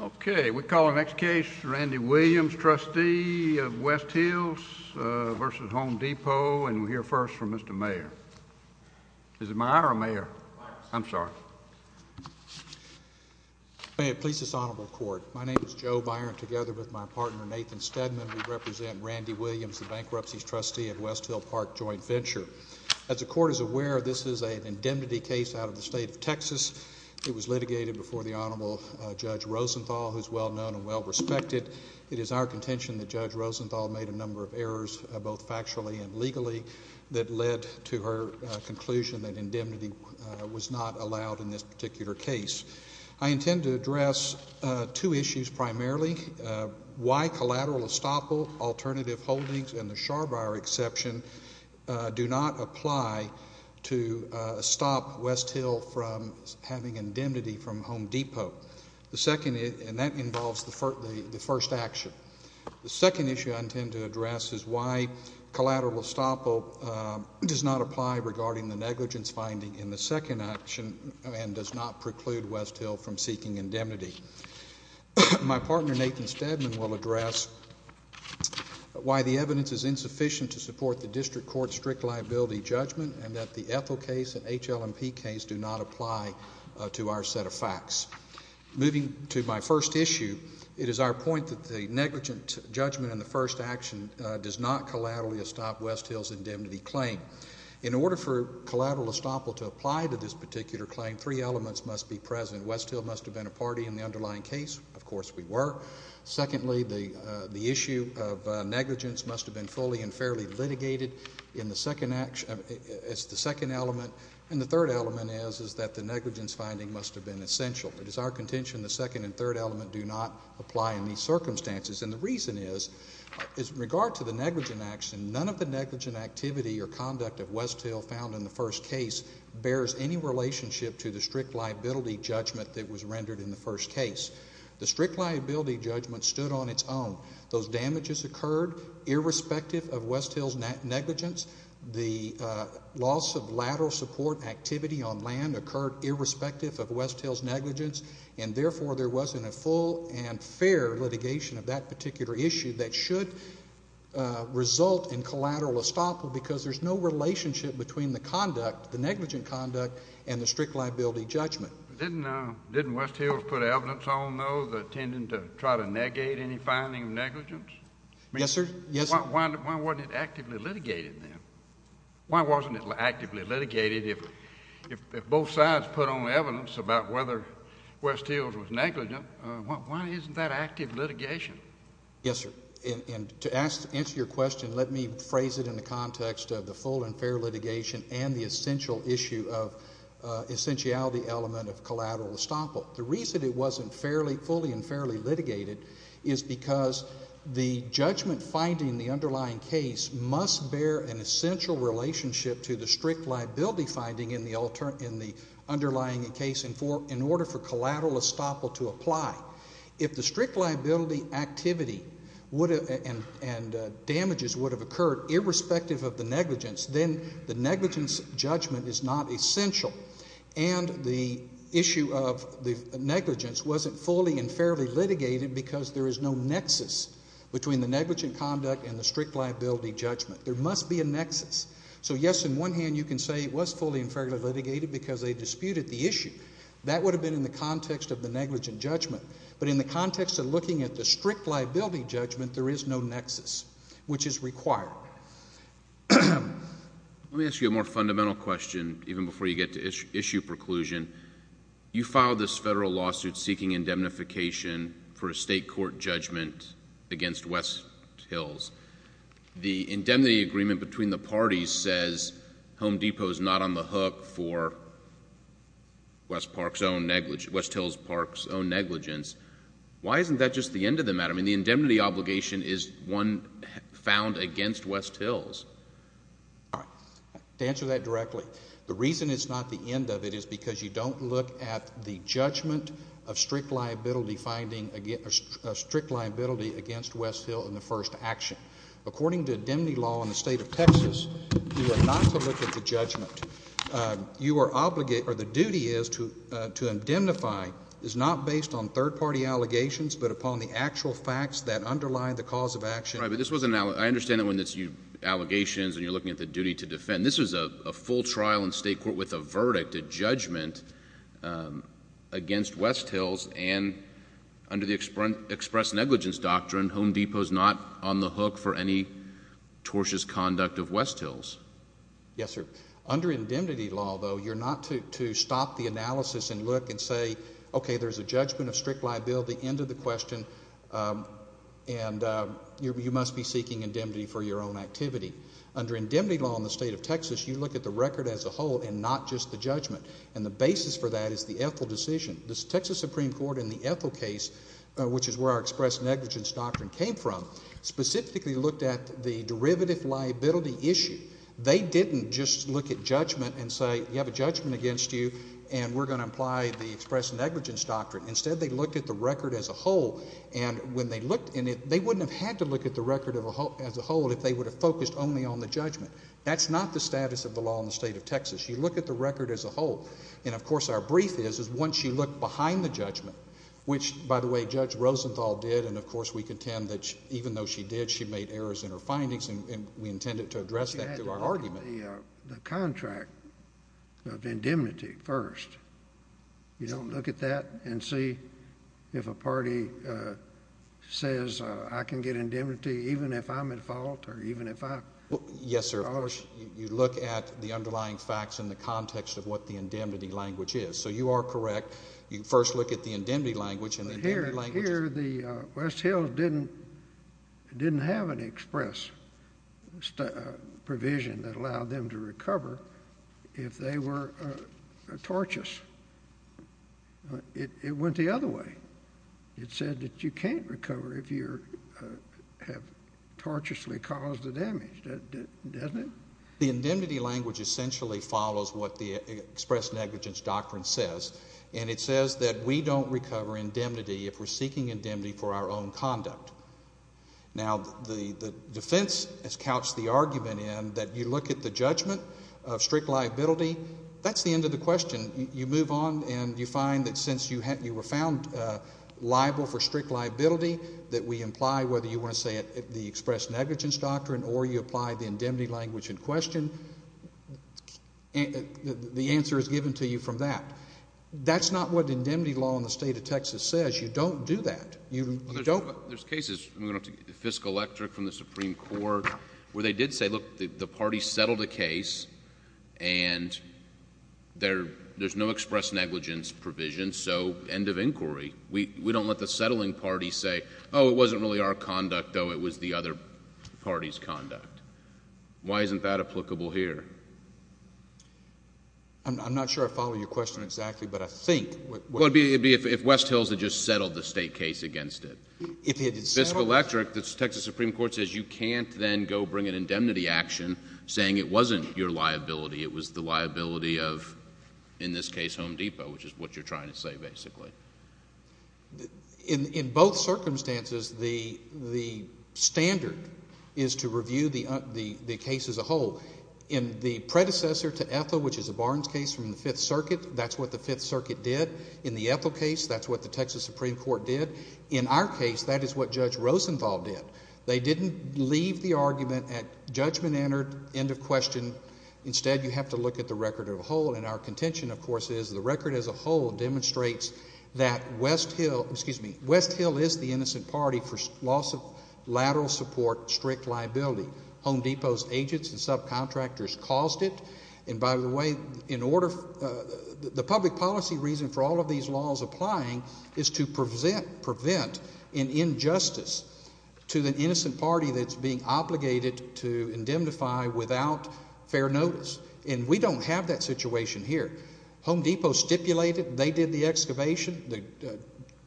Okay, we call the next case Randy Williams, trustee of West Hills v. Home Depot, and we'll hear first from Mr. Mayor. Is it my honor, Mayor? I'm sorry. May it please this honorable court, my name is Joe Byron, together with my partner Nathan Stedman, we represent Randy Williams, the Bankruptcies Trustee at West Hill Park Joint Venture. As the court is aware, this is an indemnity case out of the state of Texas. It was litigated before the Honorable Judge Rosenthal, who is well known and well respected. It is our contention that Judge Rosenthal made a number of errors, both factually and legally, that led to her conclusion that indemnity was not allowed in this particular case. I intend to address two issues primarily. Why collateral estoppel, alternative holdings, and the Charbire exception do not apply to stop West Hill from having indemnity from Home Depot. And that involves the first action. The second issue I intend to address is why collateral estoppel does not apply regarding the negligence finding in the second action and does not preclude West Hill from seeking indemnity. My partner Nathan Stedman will address why the evidence is insufficient to support the district court's strict liability judgment and that the Ethel case and HLMP case do not apply to our set of facts. Moving to my first issue, it is our point that the negligent judgment in the first action does not collaterally estopp West Hill's indemnity claim. In order for collateral estoppel to apply to this particular claim, three elements must be present. West Hill must have been a party in the underlying case. Of course, we were. Secondly, the issue of negligence must have been fully and fairly litigated in the second action. It's the second element. And the third element is that the negligence finding must have been essential. It is our contention the second and third element do not apply in these circumstances. And the reason is in regard to the negligent action, none of the negligent activity or conduct of West Hill found in the first case bears any relationship to the strict liability judgment that was rendered in the first case. The strict liability judgment stood on its own. Those damages occurred irrespective of West Hill's negligence. The loss of lateral support activity on land occurred irrespective of West Hill's negligence. And, therefore, there wasn't a full and fair litigation of that particular issue that should result in collateral estoppel because there's no relationship between the conduct, the negligent conduct, and the strict liability judgment. Didn't West Hill put evidence on those intending to try to negate any finding of negligence? Yes, sir. Why wasn't it actively litigated then? Why wasn't it actively litigated if both sides put on evidence about whether West Hill was negligent? Why isn't that active litigation? Yes, sir. And to answer your question, let me phrase it in the context of the full and fair litigation and the essential issue of essentiality element of collateral estoppel. The reason it wasn't fully and fairly litigated is because the judgment finding in the underlying case must bear an essential relationship to the strict liability finding in the underlying case in order for collateral estoppel to apply. If the strict liability activity and damages would have occurred irrespective of the negligence, then the negligence judgment is not essential. And the issue of the negligence wasn't fully and fairly litigated because there is no nexus between the negligent conduct and the strict liability judgment. There must be a nexus. So, yes, in one hand you can say it was fully and fairly litigated because they disputed the issue. That would have been in the context of the negligent judgment. But in the context of looking at the strict liability judgment, there is no nexus, which is required. Let me ask you a more fundamental question even before you get to issue preclusion. You filed this federal lawsuit seeking indemnification for a state court judgment against West Hills. The indemnity agreement between the parties says Home Depot is not on the hook for West Hills Park's own negligence. Why isn't that just the end of the matter? I mean, the indemnity obligation is one found against West Hills. All right. To answer that directly, the reason it's not the end of it is because you don't look at the judgment of strict liability against West Hills in the first action. According to indemnity law in the state of Texas, you are not to look at the judgment. The duty is to indemnify is not based on third-party allegations but upon the actual facts that underlie the cause of action. I understand that when it's allegations and you're looking at the duty to defend. This is a full trial in state court with a verdict, a judgment, against West Hills. And under the express negligence doctrine, Home Depot is not on the hook for any tortious conduct of West Hills. Yes, sir. Under indemnity law, though, you're not to stop the analysis and look and say, okay, there's a judgment of strict liability, end of the question, and you must be seeking indemnity for your own activity. Under indemnity law in the state of Texas, you look at the record as a whole and not just the judgment. And the basis for that is the Ethel decision. The Texas Supreme Court in the Ethel case, which is where our express negligence doctrine came from, specifically looked at the derivative liability issue. They didn't just look at judgment and say you have a judgment against you and we're going to apply the express negligence doctrine. Instead, they looked at the record as a whole. And when they looked in it, they wouldn't have had to look at the record as a whole if they would have focused only on the judgment. That's not the status of the law in the state of Texas. You look at the record as a whole. And, of course, our brief is once you look behind the judgment, which, by the way, Judge Rosenthal did. And, of course, we contend that even though she did, she made errors in her findings, and we intended to address that through our argument. She had to look at the contract of indemnity first. You don't look at that and see if a party says I can get indemnity even if I'm at fault or even if I'm charged. Yes, sir. You look at the underlying facts in the context of what the indemnity language is. So you are correct. You first look at the indemnity language. Here the West Hills didn't have an express provision that allowed them to recover if they were tortious. It went the other way. It said that you can't recover if you have tortiously caused the damage. Doesn't it? The indemnity language essentially follows what the express negligence doctrine says, and it says that we don't recover indemnity if we're seeking indemnity for our own conduct. Now, the defense has couched the argument in that you look at the judgment of strict liability. That's the end of the question. You move on and you find that since you were found liable for strict liability, that we imply whether you want to say the express negligence doctrine or you apply the indemnity language in question, the answer is given to you from that. That's not what indemnity law in the state of Texas says. You don't do that. You don't. There's cases, fiscal electorate from the Supreme Court, where they did say, look, the party settled a case, and there's no express negligence provision, so end of inquiry. We don't let the settling party say, oh, it wasn't really our conduct, though. It was the other party's conduct. Why isn't that applicable here? I'm not sure I follow your question exactly, but I think... Well, it would be if West Hills had just settled the state case against it. If it had settled... Fiscal electorate, the Texas Supreme Court says you can't then go bring an indemnity action saying it wasn't your liability, it was the liability of, in this case, Home Depot, which is what you're trying to say basically. In both circumstances, the standard is to review the case as a whole. In the predecessor to Ethel, which is a Barnes case from the Fifth Circuit, that's what the Fifth Circuit did. In the Ethel case, that's what the Texas Supreme Court did. In our case, that is what Judge Rosenwald did. They didn't leave the argument at judgment entered, end of question. Instead, you have to look at the record as a whole, and our contention, of course, is the record as a whole demonstrates that West Hill is the innocent party for loss of lateral support, strict liability. Home Depot's agents and subcontractors caused it. And by the way, in order... the public policy reason for all of these laws applying is to prevent an injustice to the innocent party that's being obligated to indemnify without fair notice. And we don't have that situation here. Home Depot stipulated they did the excavation.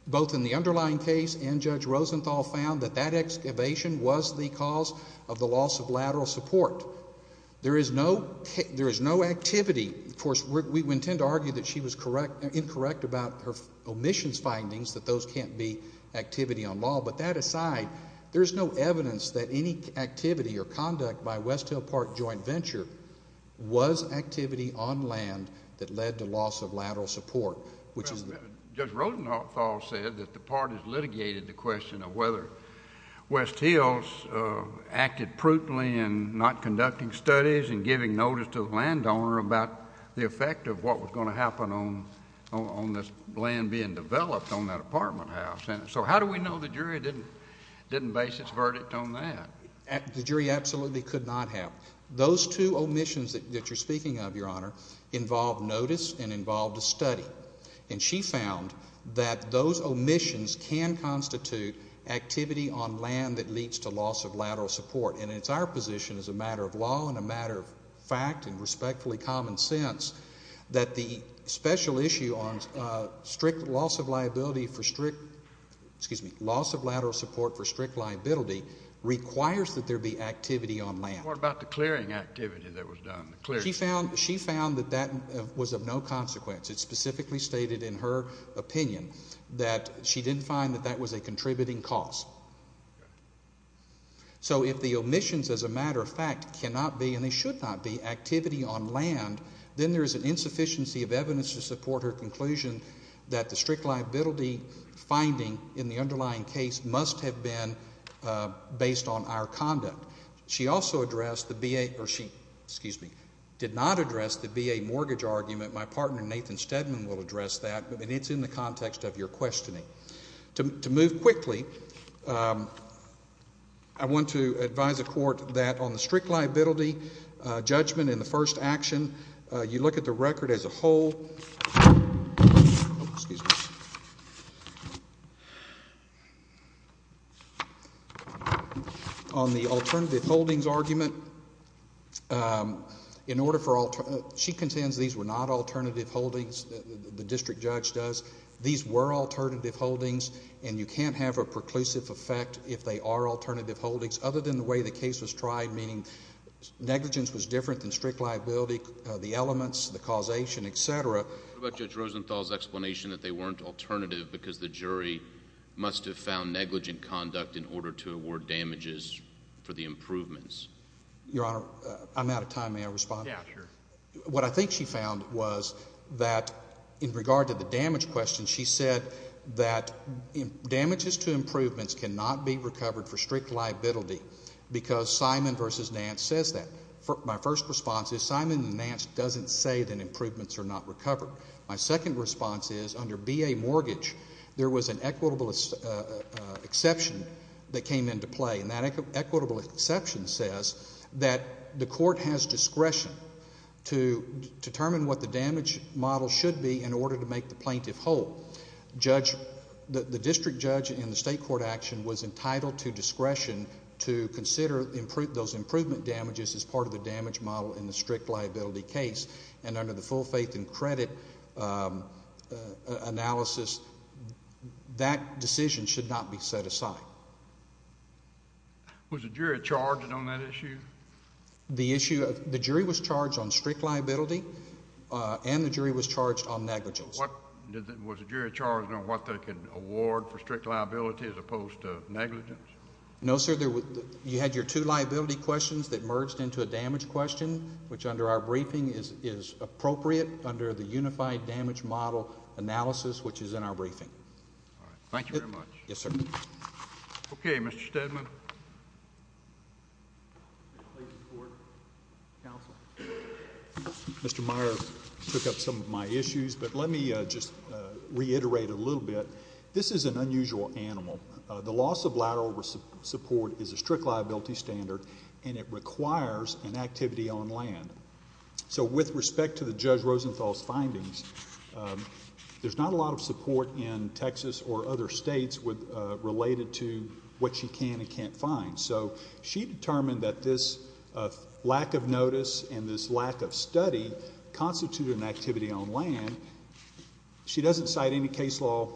Both in the underlying case and Judge Rosenthal found that that excavation was the cause of the loss of lateral support. There is no activity. Of course, we tend to argue that she was incorrect about her omissions findings, that those can't be activity on law. But that aside, there's no evidence that any activity or conduct by West Hill Park Joint Venture was activity on land that led to loss of lateral support, which is... and giving notice to the landowner about the effect of what was going to happen on this land being developed on that apartment house. So how do we know the jury didn't base its verdict on that? The jury absolutely could not have. Those two omissions that you're speaking of, Your Honor, involved notice and involved a study. And she found that those omissions can constitute activity on land that leads to loss of lateral support. And it's our position as a matter of law and a matter of fact and respectfully common sense that the special issue on loss of lateral support for strict liability requires that there be activity on land. What about the clearing activity that was done? She found that that was of no consequence. It specifically stated in her opinion that she didn't find that that was a contributing cause. So if the omissions, as a matter of fact, cannot be and they should not be activity on land, then there is an insufficiency of evidence to support her conclusion that the strict liability finding in the underlying case must have been based on our conduct. She also addressed the BA... or she, excuse me, did not address the BA mortgage argument. My partner, Nathan Stedman, will address that. But it's in the context of your questioning. To move quickly, I want to advise the court that on the strict liability judgment in the first action, you look at the record as a whole. Excuse me. On the alternative holdings argument, in order for... She contends these were not alternative holdings, the district judge does. These were alternative holdings, and you can't have a preclusive effect if they are alternative holdings, other than the way the case was tried, meaning negligence was different than strict liability, the elements, the causation, et cetera. What about Judge Rosenthal's explanation that they weren't alternative because the jury must have found negligent conduct in order to award damages for the improvements? Your Honor, I'm out of time. May I respond? Yeah, sure. What I think she found was that in regard to the damage question, she said that damages to improvements cannot be recovered for strict liability because Simon v. Nance says that. My first response is Simon and Nance doesn't say that improvements are not recovered. My second response is under BA mortgage, there was an equitable exception that came into play, and that equitable exception says that the court has discretion to determine what the damage model should be in order to make the plaintiff whole. The district judge in the state court action was entitled to discretion to consider those improvement damages as part of the damage model in the strict liability case, and under the full faith and credit analysis, that decision should not be set aside. Was the jury charged on that issue? The jury was charged on strict liability, and the jury was charged on negligence. Was the jury charged on what they could award for strict liability as opposed to negligence? No, sir. You had your two liability questions that merged into a damage question, which under our briefing is appropriate under the unified damage model analysis, which is in our briefing. All right. Thank you very much. Yes, sir. Okay, Mr. Steadman. Mr. Meyer took up some of my issues, but let me just reiterate a little bit. This is an unusual animal. The loss of lateral support is a strict liability standard, and it requires an activity on land. So with respect to the Judge Rosenthal's findings, there's not a lot of support in Texas or other states related to what she can and can't find. So she determined that this lack of notice and this lack of study constituted an activity on land. She doesn't cite any case law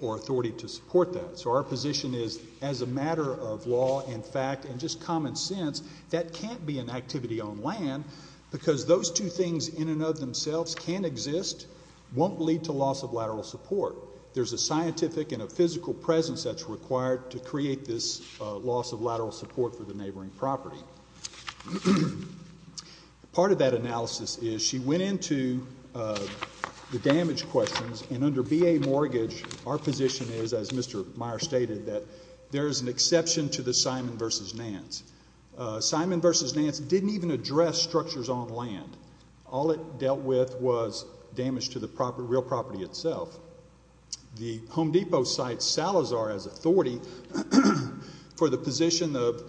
or authority to support that. So our position is as a matter of law and fact and just common sense, that can't be an activity on land because those two things in and of themselves can exist, won't lead to loss of lateral support. There's a scientific and a physical presence that's required to create this loss of lateral support for the neighboring property. Part of that analysis is she went into the damage questions, and under B.A. Mortgage, our position is, as Mr. Meyer stated, that there is an exception to the Simon v. Nance. Simon v. Nance didn't even address structures on land. All it dealt with was damage to the real property itself. The Home Depot cites Salazar as authority for the position of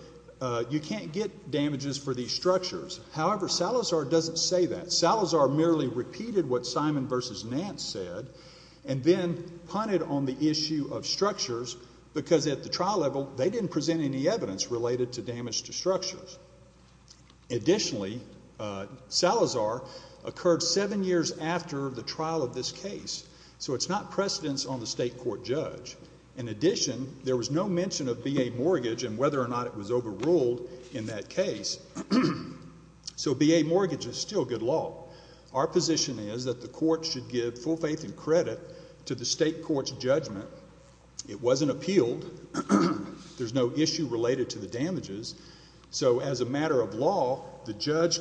you can't get damages for these structures. However, Salazar doesn't say that. Salazar merely repeated what Simon v. Nance said and then punted on the issue of structures because at the trial level they didn't present any evidence related to damage to structures. Additionally, Salazar occurred seven years after the trial of this case, so it's not precedence on the state court judge. In addition, there was no mention of B.A. Mortgage and whether or not it was overruled in that case. So B.A. Mortgage is still good law. Our position is that the court should give full faith and credit to the state court's judgment. It wasn't appealed. There's no issue related to the damages. So as a matter of law, the judge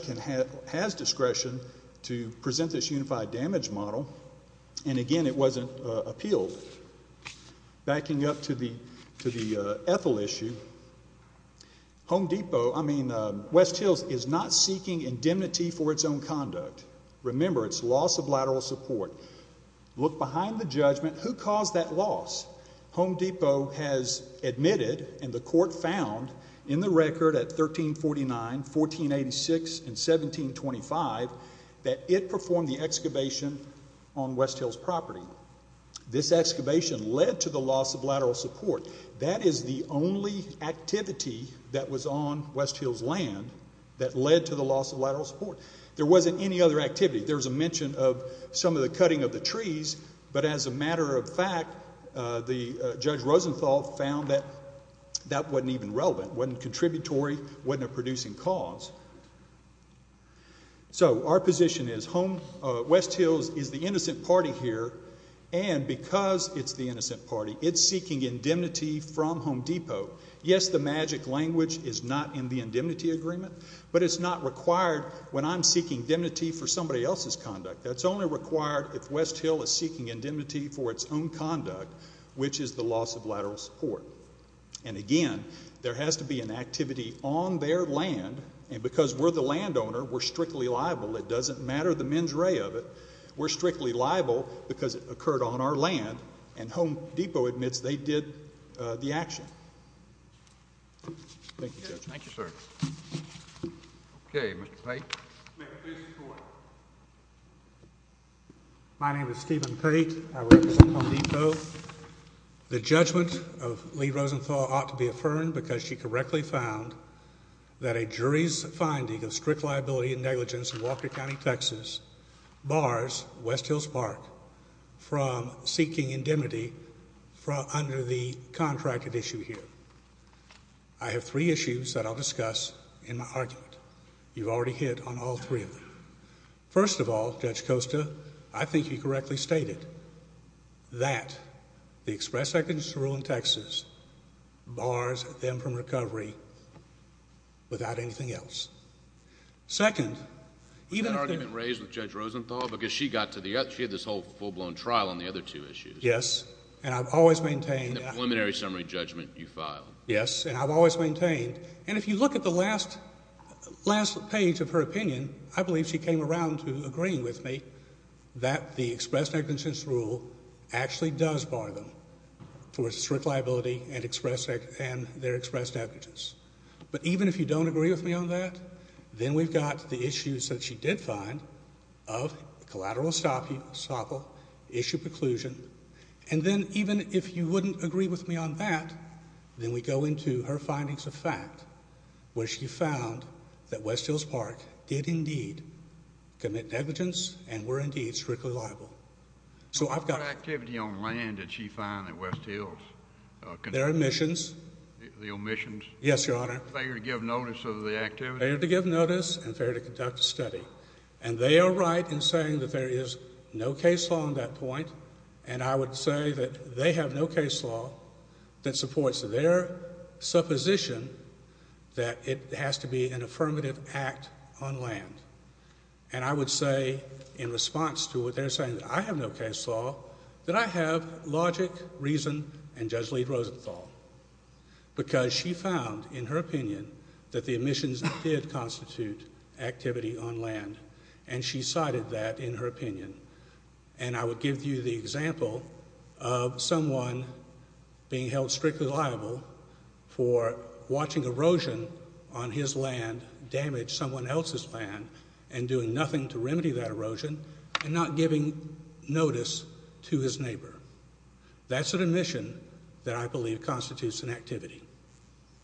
has discretion to present this unified damage model, and again, it wasn't appealed. Backing up to the Ethel issue, West Hills is not seeking indemnity for its own conduct. Remember, it's loss of lateral support. Look behind the judgment. Who caused that loss? Home Depot has admitted, and the court found in the record at 1349, 1486, and 1725 that it performed the excavation on West Hills property. This excavation led to the loss of lateral support. That is the only activity that was on West Hills land that led to the loss of lateral support. There wasn't any other activity. There was a mention of some of the cutting of the trees, but as a matter of fact, Judge Rosenthal found that that wasn't even relevant, wasn't contributory, wasn't a producing cause. So our position is West Hills is the innocent party here, and because it's the innocent party, it's seeking indemnity from Home Depot. Yes, the magic language is not in the indemnity agreement, but it's not required when I'm seeking indemnity for somebody else's conduct. That's only required if West Hill is seeking indemnity for its own conduct, which is the loss of lateral support. And again, there has to be an activity on their land, and because we're the landowner, we're strictly liable. It doesn't matter the mens rea of it. We're strictly liable because it occurred on our land, and Home Depot admits they did the action. Thank you, Judge. Thank you, sir. Okay, Mr. Pate. Mayor, please report. My name is Stephen Pate. I represent Home Depot. The judgment of Lee Rosenthal ought to be affirmed because she correctly found that a jury's finding of strict liability and negligence in Walker County, Texas bars West Hills Park from seeking indemnity under the contracted issue here. I have three issues that I'll discuss in my argument. You've already hit on all three of them. First of all, Judge Costa, I think you correctly stated that the express evidence to rule in Texas bars them from recovery without anything else. Second, even if they're... Was that argument raised with Judge Rosenthal because she got to the... she had this whole full-blown trial on the other two issues. Yes, and I've always maintained... In the preliminary summary judgment you filed. Yes, and I've always maintained. And if you look at the last page of her opinion, I believe she came around to agreeing with me that the express negligence rule actually does bar them for strict liability and their express negligence. But even if you don't agree with me on that, then we've got the issues that she did find of collateral estoppel, issue preclusion, and then even if you wouldn't agree with me on that, then we go into her findings of fact, where she found that West Hills Park did indeed commit negligence and were indeed strictly liable. So I've got... What kind of activity on land did she find at West Hills? Their omissions. The omissions. Yes, Your Honor. Failure to give notice of the activity. Failure to give notice and failure to conduct a study. And they are right in saying that there is no case law on that point. And I would say that they have no case law that supports their supposition that it has to be an affirmative act on land. And I would say in response to what they're saying, that I have no case law, that I have logic, reason, and Judge Lee Rosenthal. Because she found, in her opinion, that the omissions did constitute activity on land. And she cited that in her opinion. And I would give you the example of someone being held strictly liable for watching erosion on his land damage someone else's land and doing nothing to remedy that erosion and not giving notice to his neighbor. That's an omission that I believe constitutes an activity.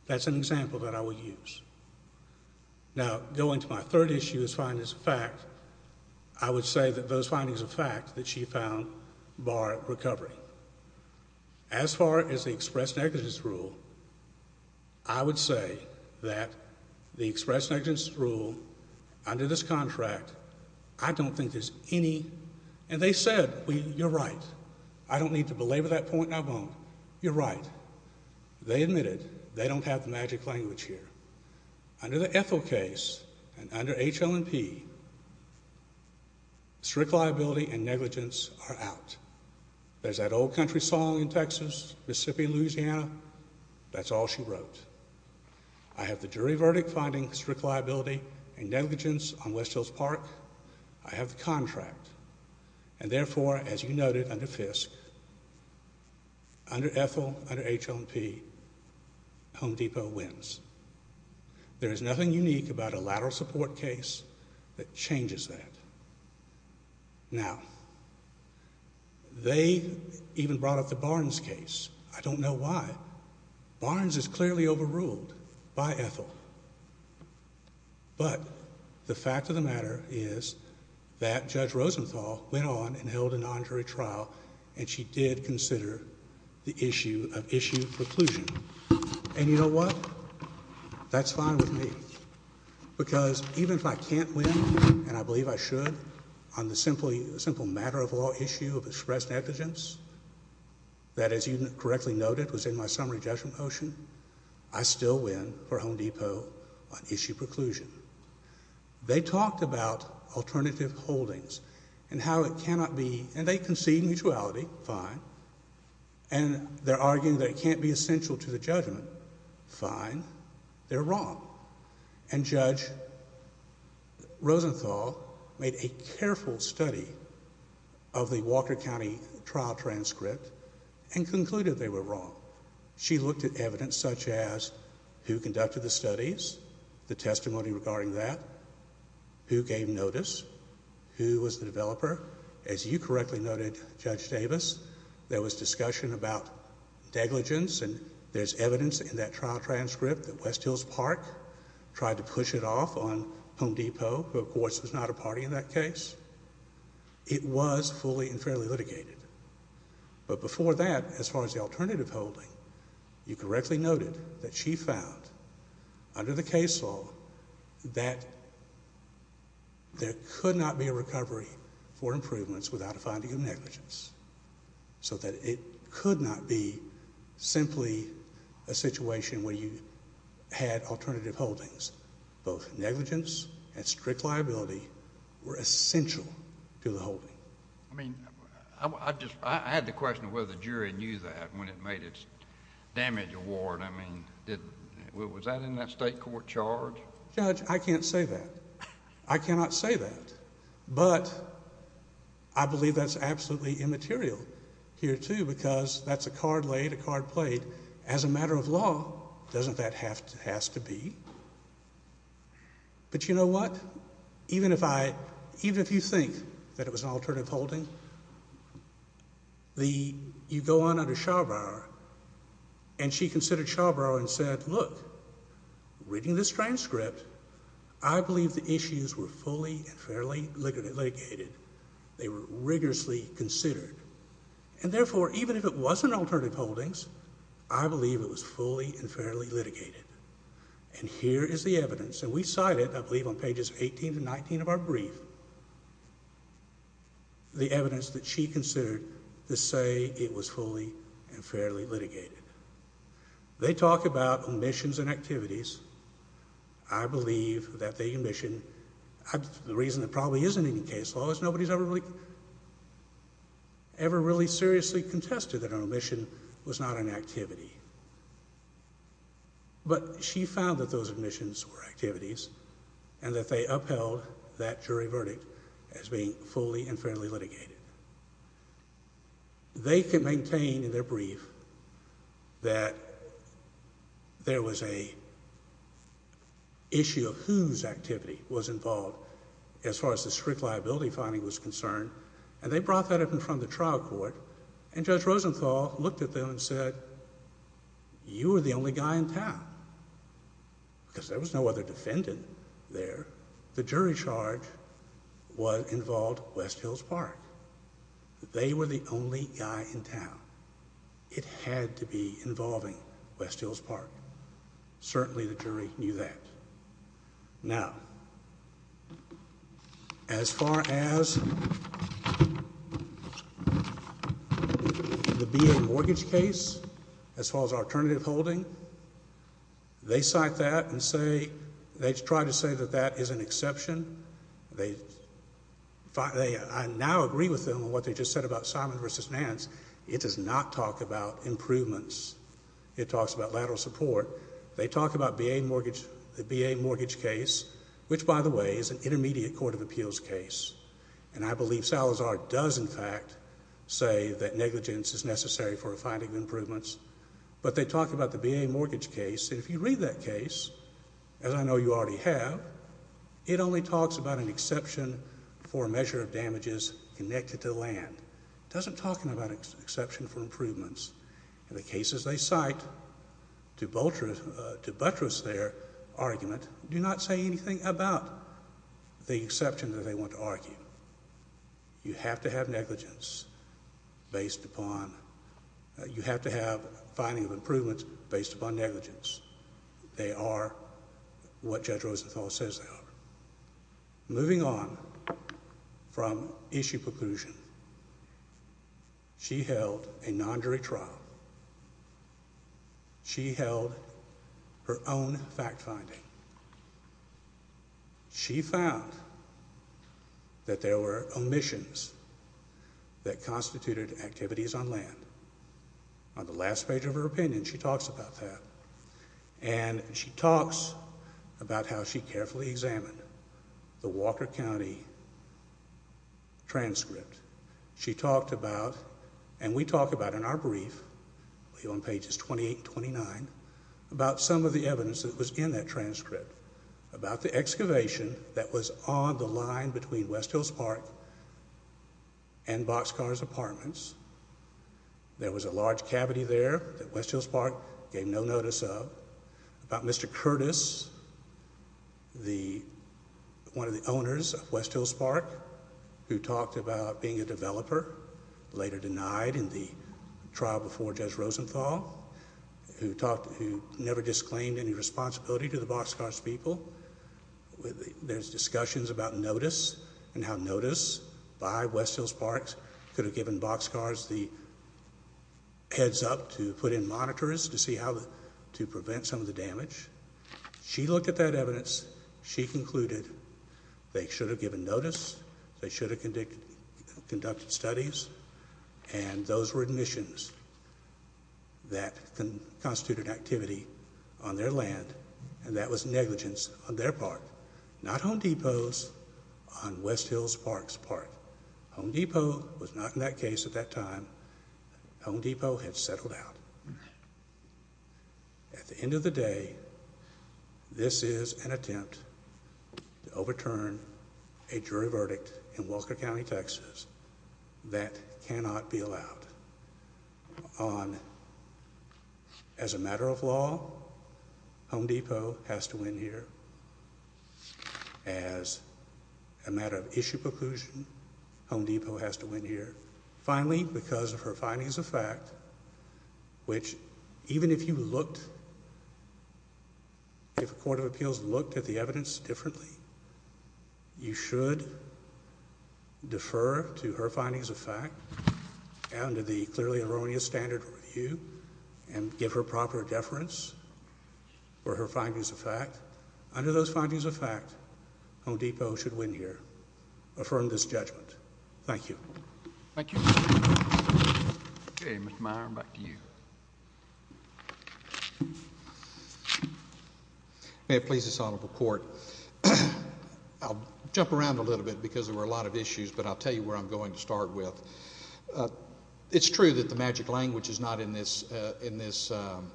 That's an example that I would use. Now, going to my third issue is findings of fact. I would say that those findings of fact that she found bar recovery. As far as the express negligence rule, I would say that the express negligence rule under this contract, I don't think there's any... And they said, you're right. I don't need to belabor that point, and I won't. You're right. They admitted they don't have the magic language here. Under the Ethel case and under HL&P, strict liability and negligence are out. There's that old country song in Texas, Mississippi, Louisiana. That's all she wrote. I have the jury verdict finding strict liability and negligence on West Hills Park. I have the contract, and therefore, as you noted under Fisk, under Ethel, under HL&P, Home Depot wins. There is nothing unique about a lateral support case that changes that. Now, they even brought up the Barnes case. I don't know why. Barnes is clearly overruled by Ethel. But, the fact of the matter is that Judge Rosenthal went on and held a non-jury trial, and she did consider the issue of issue preclusion. And you know what? That's fine with me. Because even if I can't win, and I believe I should, on the simple matter of law issue of express negligence... That, as you correctly noted, was in my summary judgment motion, I still win for Home Depot on issue preclusion. They talked about alternative holdings and how it cannot be... And, they concede mutuality. Fine. And, they're arguing that it can't be essential to the judgment. Fine. They're wrong. And, Judge Rosenthal made a careful study of the Walker County trial transcript and concluded they were wrong. She looked at evidence such as who conducted the studies, the testimony regarding that, who gave notice, who was the developer. As you correctly noted, Judge Davis, there was discussion about negligence. And, there's evidence in that trial transcript that West Hills Park tried to push it off on Home Depot, who, of course, was not a party in that case. It was fully and fairly litigated. But, before that, as far as the alternative holding, you correctly noted that she found, under the case law, that there could not be a recovery for improvements without a finding of negligence. So, that it could not be simply a situation where you had alternative holdings. Both negligence and strict liability were essential to the holding. I mean, I had the question whether the jury knew that when it made its damage award. I mean, was that in that state court charge? Judge, I can't say that. I cannot say that. But, I believe that's absolutely immaterial here, too, because that's a card laid, a card played. As a matter of law, doesn't that have to be? But, you know what? Even if I, even if you think that it was an alternative holding, the, you go on under Schaubauer, and she considered Schaubauer and said, Look, reading this transcript, I believe the issues were fully and fairly litigated. They were rigorously considered. And, therefore, even if it was an alternative holdings, I believe it was fully and fairly litigated. And, here is the evidence. And, we cite it, I believe, on pages 18 to 19 of our brief, the evidence that she considered to say it was fully and fairly litigated. They talk about omissions and activities. I believe that the omission, the reason it probably isn't in the case law is nobody's ever really, ever really seriously contested that an omission was not an activity. But, she found that those omissions were activities, and that they upheld that jury verdict as being fully and fairly litigated. They can maintain in their brief that there was a issue of whose activity was involved as far as the strict liability finding was concerned. And, they brought that up in front of the trial court. And, Judge Rosenthal looked at them and said, You were the only guy in town, because there was no other defendant there. The jury charge involved West Hills Park. They were the only guy in town. It had to be involving West Hills Park. Certainly, the jury knew that. Now, as far as the BA mortgage case, as far as alternative holding, they cite that and say, they try to say that that is an exception. I now agree with them on what they just said about Simon v. Nance. It does not talk about improvements. It talks about lateral support. They talk about the BA mortgage case, which, by the way, is an intermediate court of appeals case. And, I believe Salazar does, in fact, say that negligence is necessary for finding improvements. But, they talk about the BA mortgage case. And, if you read that case, as I know you already have, it only talks about an exception for a measure of damages connected to land. It doesn't talk about an exception for improvements. The cases they cite, to buttress their argument, do not say anything about the exception that they want to argue. You have to have finding of improvements based upon negligence. They are what Judge Rosenthal says they are. Moving on from issue preclusion, she held a non-jury trial. She held her own fact-finding. She found that there were omissions that constituted activities on land. On the last page of her opinion, she talks about that. And, she talks about how she carefully examined the Walker County transcript. She talked about, and we talk about in our brief, on pages 28 and 29, about some of the evidence that was in that transcript. About the excavation that was on the line between West Hills Park and Boxcar's apartments. There was a large cavity there that West Hills Park gave no notice of. About Mr. Curtis, one of the owners of West Hills Park, who talked about being a developer, later denied in the trial before Judge Rosenthal. Who never disclaimed any responsibility to the Boxcar's people. There's discussions about notice and how notice by West Hills Park could have given Boxcar's heads up to put in monitors to prevent some of the damage. She looked at that evidence. She concluded they should have given notice. They should have conducted studies. And, those were omissions that constituted activity on their land. And, that was negligence on their part. Not Home Depot's on West Hills Park's part. Home Depot was not in that case at that time. Home Depot had settled out. At the end of the day, this is an attempt to overturn a jury verdict in Walker County, Texas that cannot be allowed. As a matter of law, Home Depot has to win here. As a matter of issue preclusion, Home Depot has to win here. Finally, because of her findings of fact, which even if you looked, if a court of appeals looked at the evidence differently, you should defer to her findings of fact. Under the clearly erroneous standard review and give her proper deference for her findings of fact. Under those findings of fact, Home Depot should win here. Affirm this judgment. Thank you. Okay, Mr. Meyer, back to you. May it please this Honorable Court. I'll jump around a little bit because there were a lot of issues, but I'll tell you where I'm going to start with. It's true that the magic language is not in this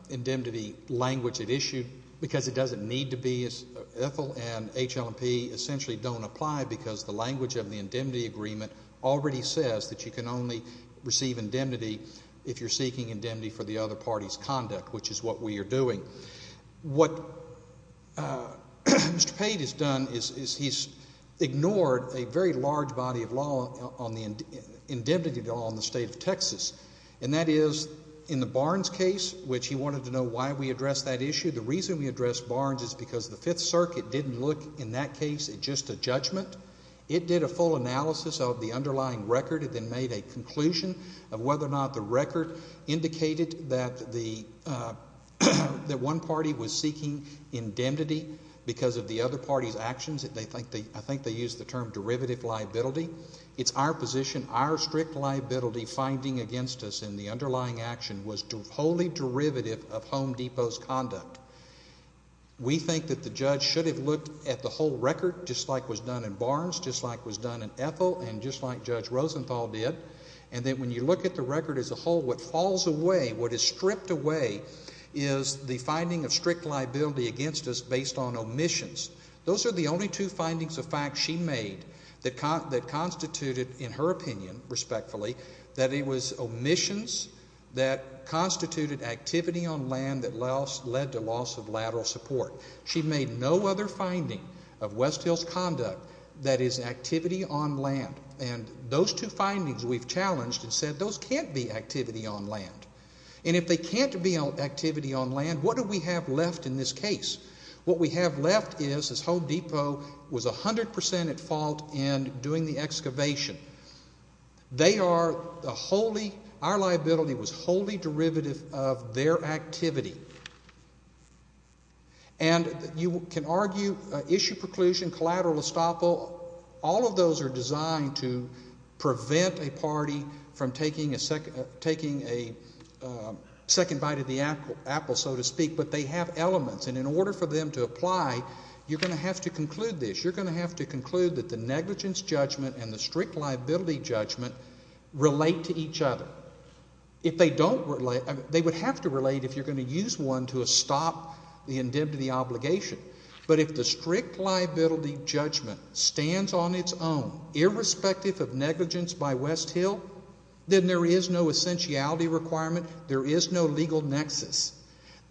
indemnity language at issue because it doesn't need to be. Ethel and HLMP essentially don't apply because the language of the indemnity agreement already says that you can only receive indemnity if you're seeking indemnity for the other party's conduct, which is what we are doing. What Mr. Pate has done is he's ignored a very large body of law on the indemnity law in the state of Texas. And that is in the Barnes case, which he wanted to know why we addressed that issue. The reason we addressed Barnes is because the Fifth Circuit didn't look in that case at just a judgment. It did a full analysis of the underlying record and then made a conclusion of whether or not the record indicated that the one party was seeking indemnity because of the other party's actions. I think they used the term derivative liability. It's our position, our strict liability finding against us in the underlying action was wholly derivative of Home Depot's conduct. We think that the judge should have looked at the whole record just like was done in Barnes, just like was done in Ethel, and just like Judge Rosenthal did. And then when you look at the record as a whole, what falls away, what is stripped away is the finding of strict liability against us based on omissions. Those are the only two findings of fact she made that constituted, in her opinion, respectfully, that it was omissions that constituted activity on land that led to loss of lateral support. She made no other finding of West Hill's conduct that is activity on land. And those two findings we've challenged and said those can't be activity on land. And if they can't be activity on land, what do we have left in this case? What we have left is Home Depot was 100% at fault in doing the excavation. They are wholly, our liability was wholly derivative of their activity. And you can argue issue preclusion, collateral estoppel, all of those are designed to prevent a party from taking a second bite of the apple, so to speak, but they have elements, and in order for them to apply, you're going to have to conclude this. You're going to have to conclude that the negligence judgment and the strict liability judgment relate to each other. If they don't relate, they would have to relate if you're going to use one to stop the indemnity obligation. But if the strict liability judgment stands on its own, irrespective of negligence by West Hill, then there is no essentiality requirement. There is no legal nexus.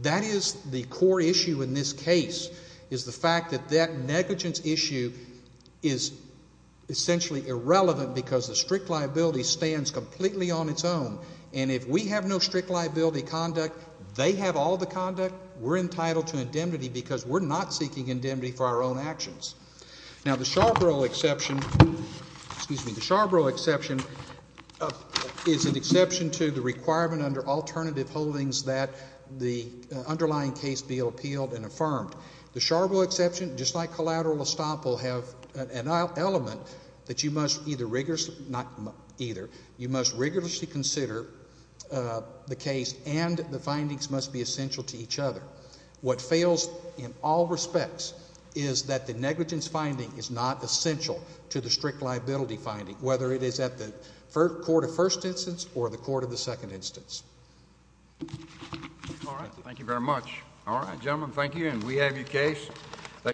That is the core issue in this case is the fact that that negligence issue is essentially irrelevant because the strict liability stands completely on its own. And if we have no strict liability conduct, they have all the conduct, we're entitled to indemnity because we're not seeking indemnity for our own actions. Now, the Sharborough exception is an exception to the requirement under alternative holdings that the underlying case be appealed and affirmed. The Sharborough exception, just like collateral estoppel, have an element that you must either rigorously, not either, you must rigorously consider the case and the findings must be essential to each other. What fails in all respects is that the negligence finding is not essential to the strict liability finding, whether it is at the court of first instance or the court of the second instance. All right. Thank you very much. All right, gentlemen, thank you. And we have your case.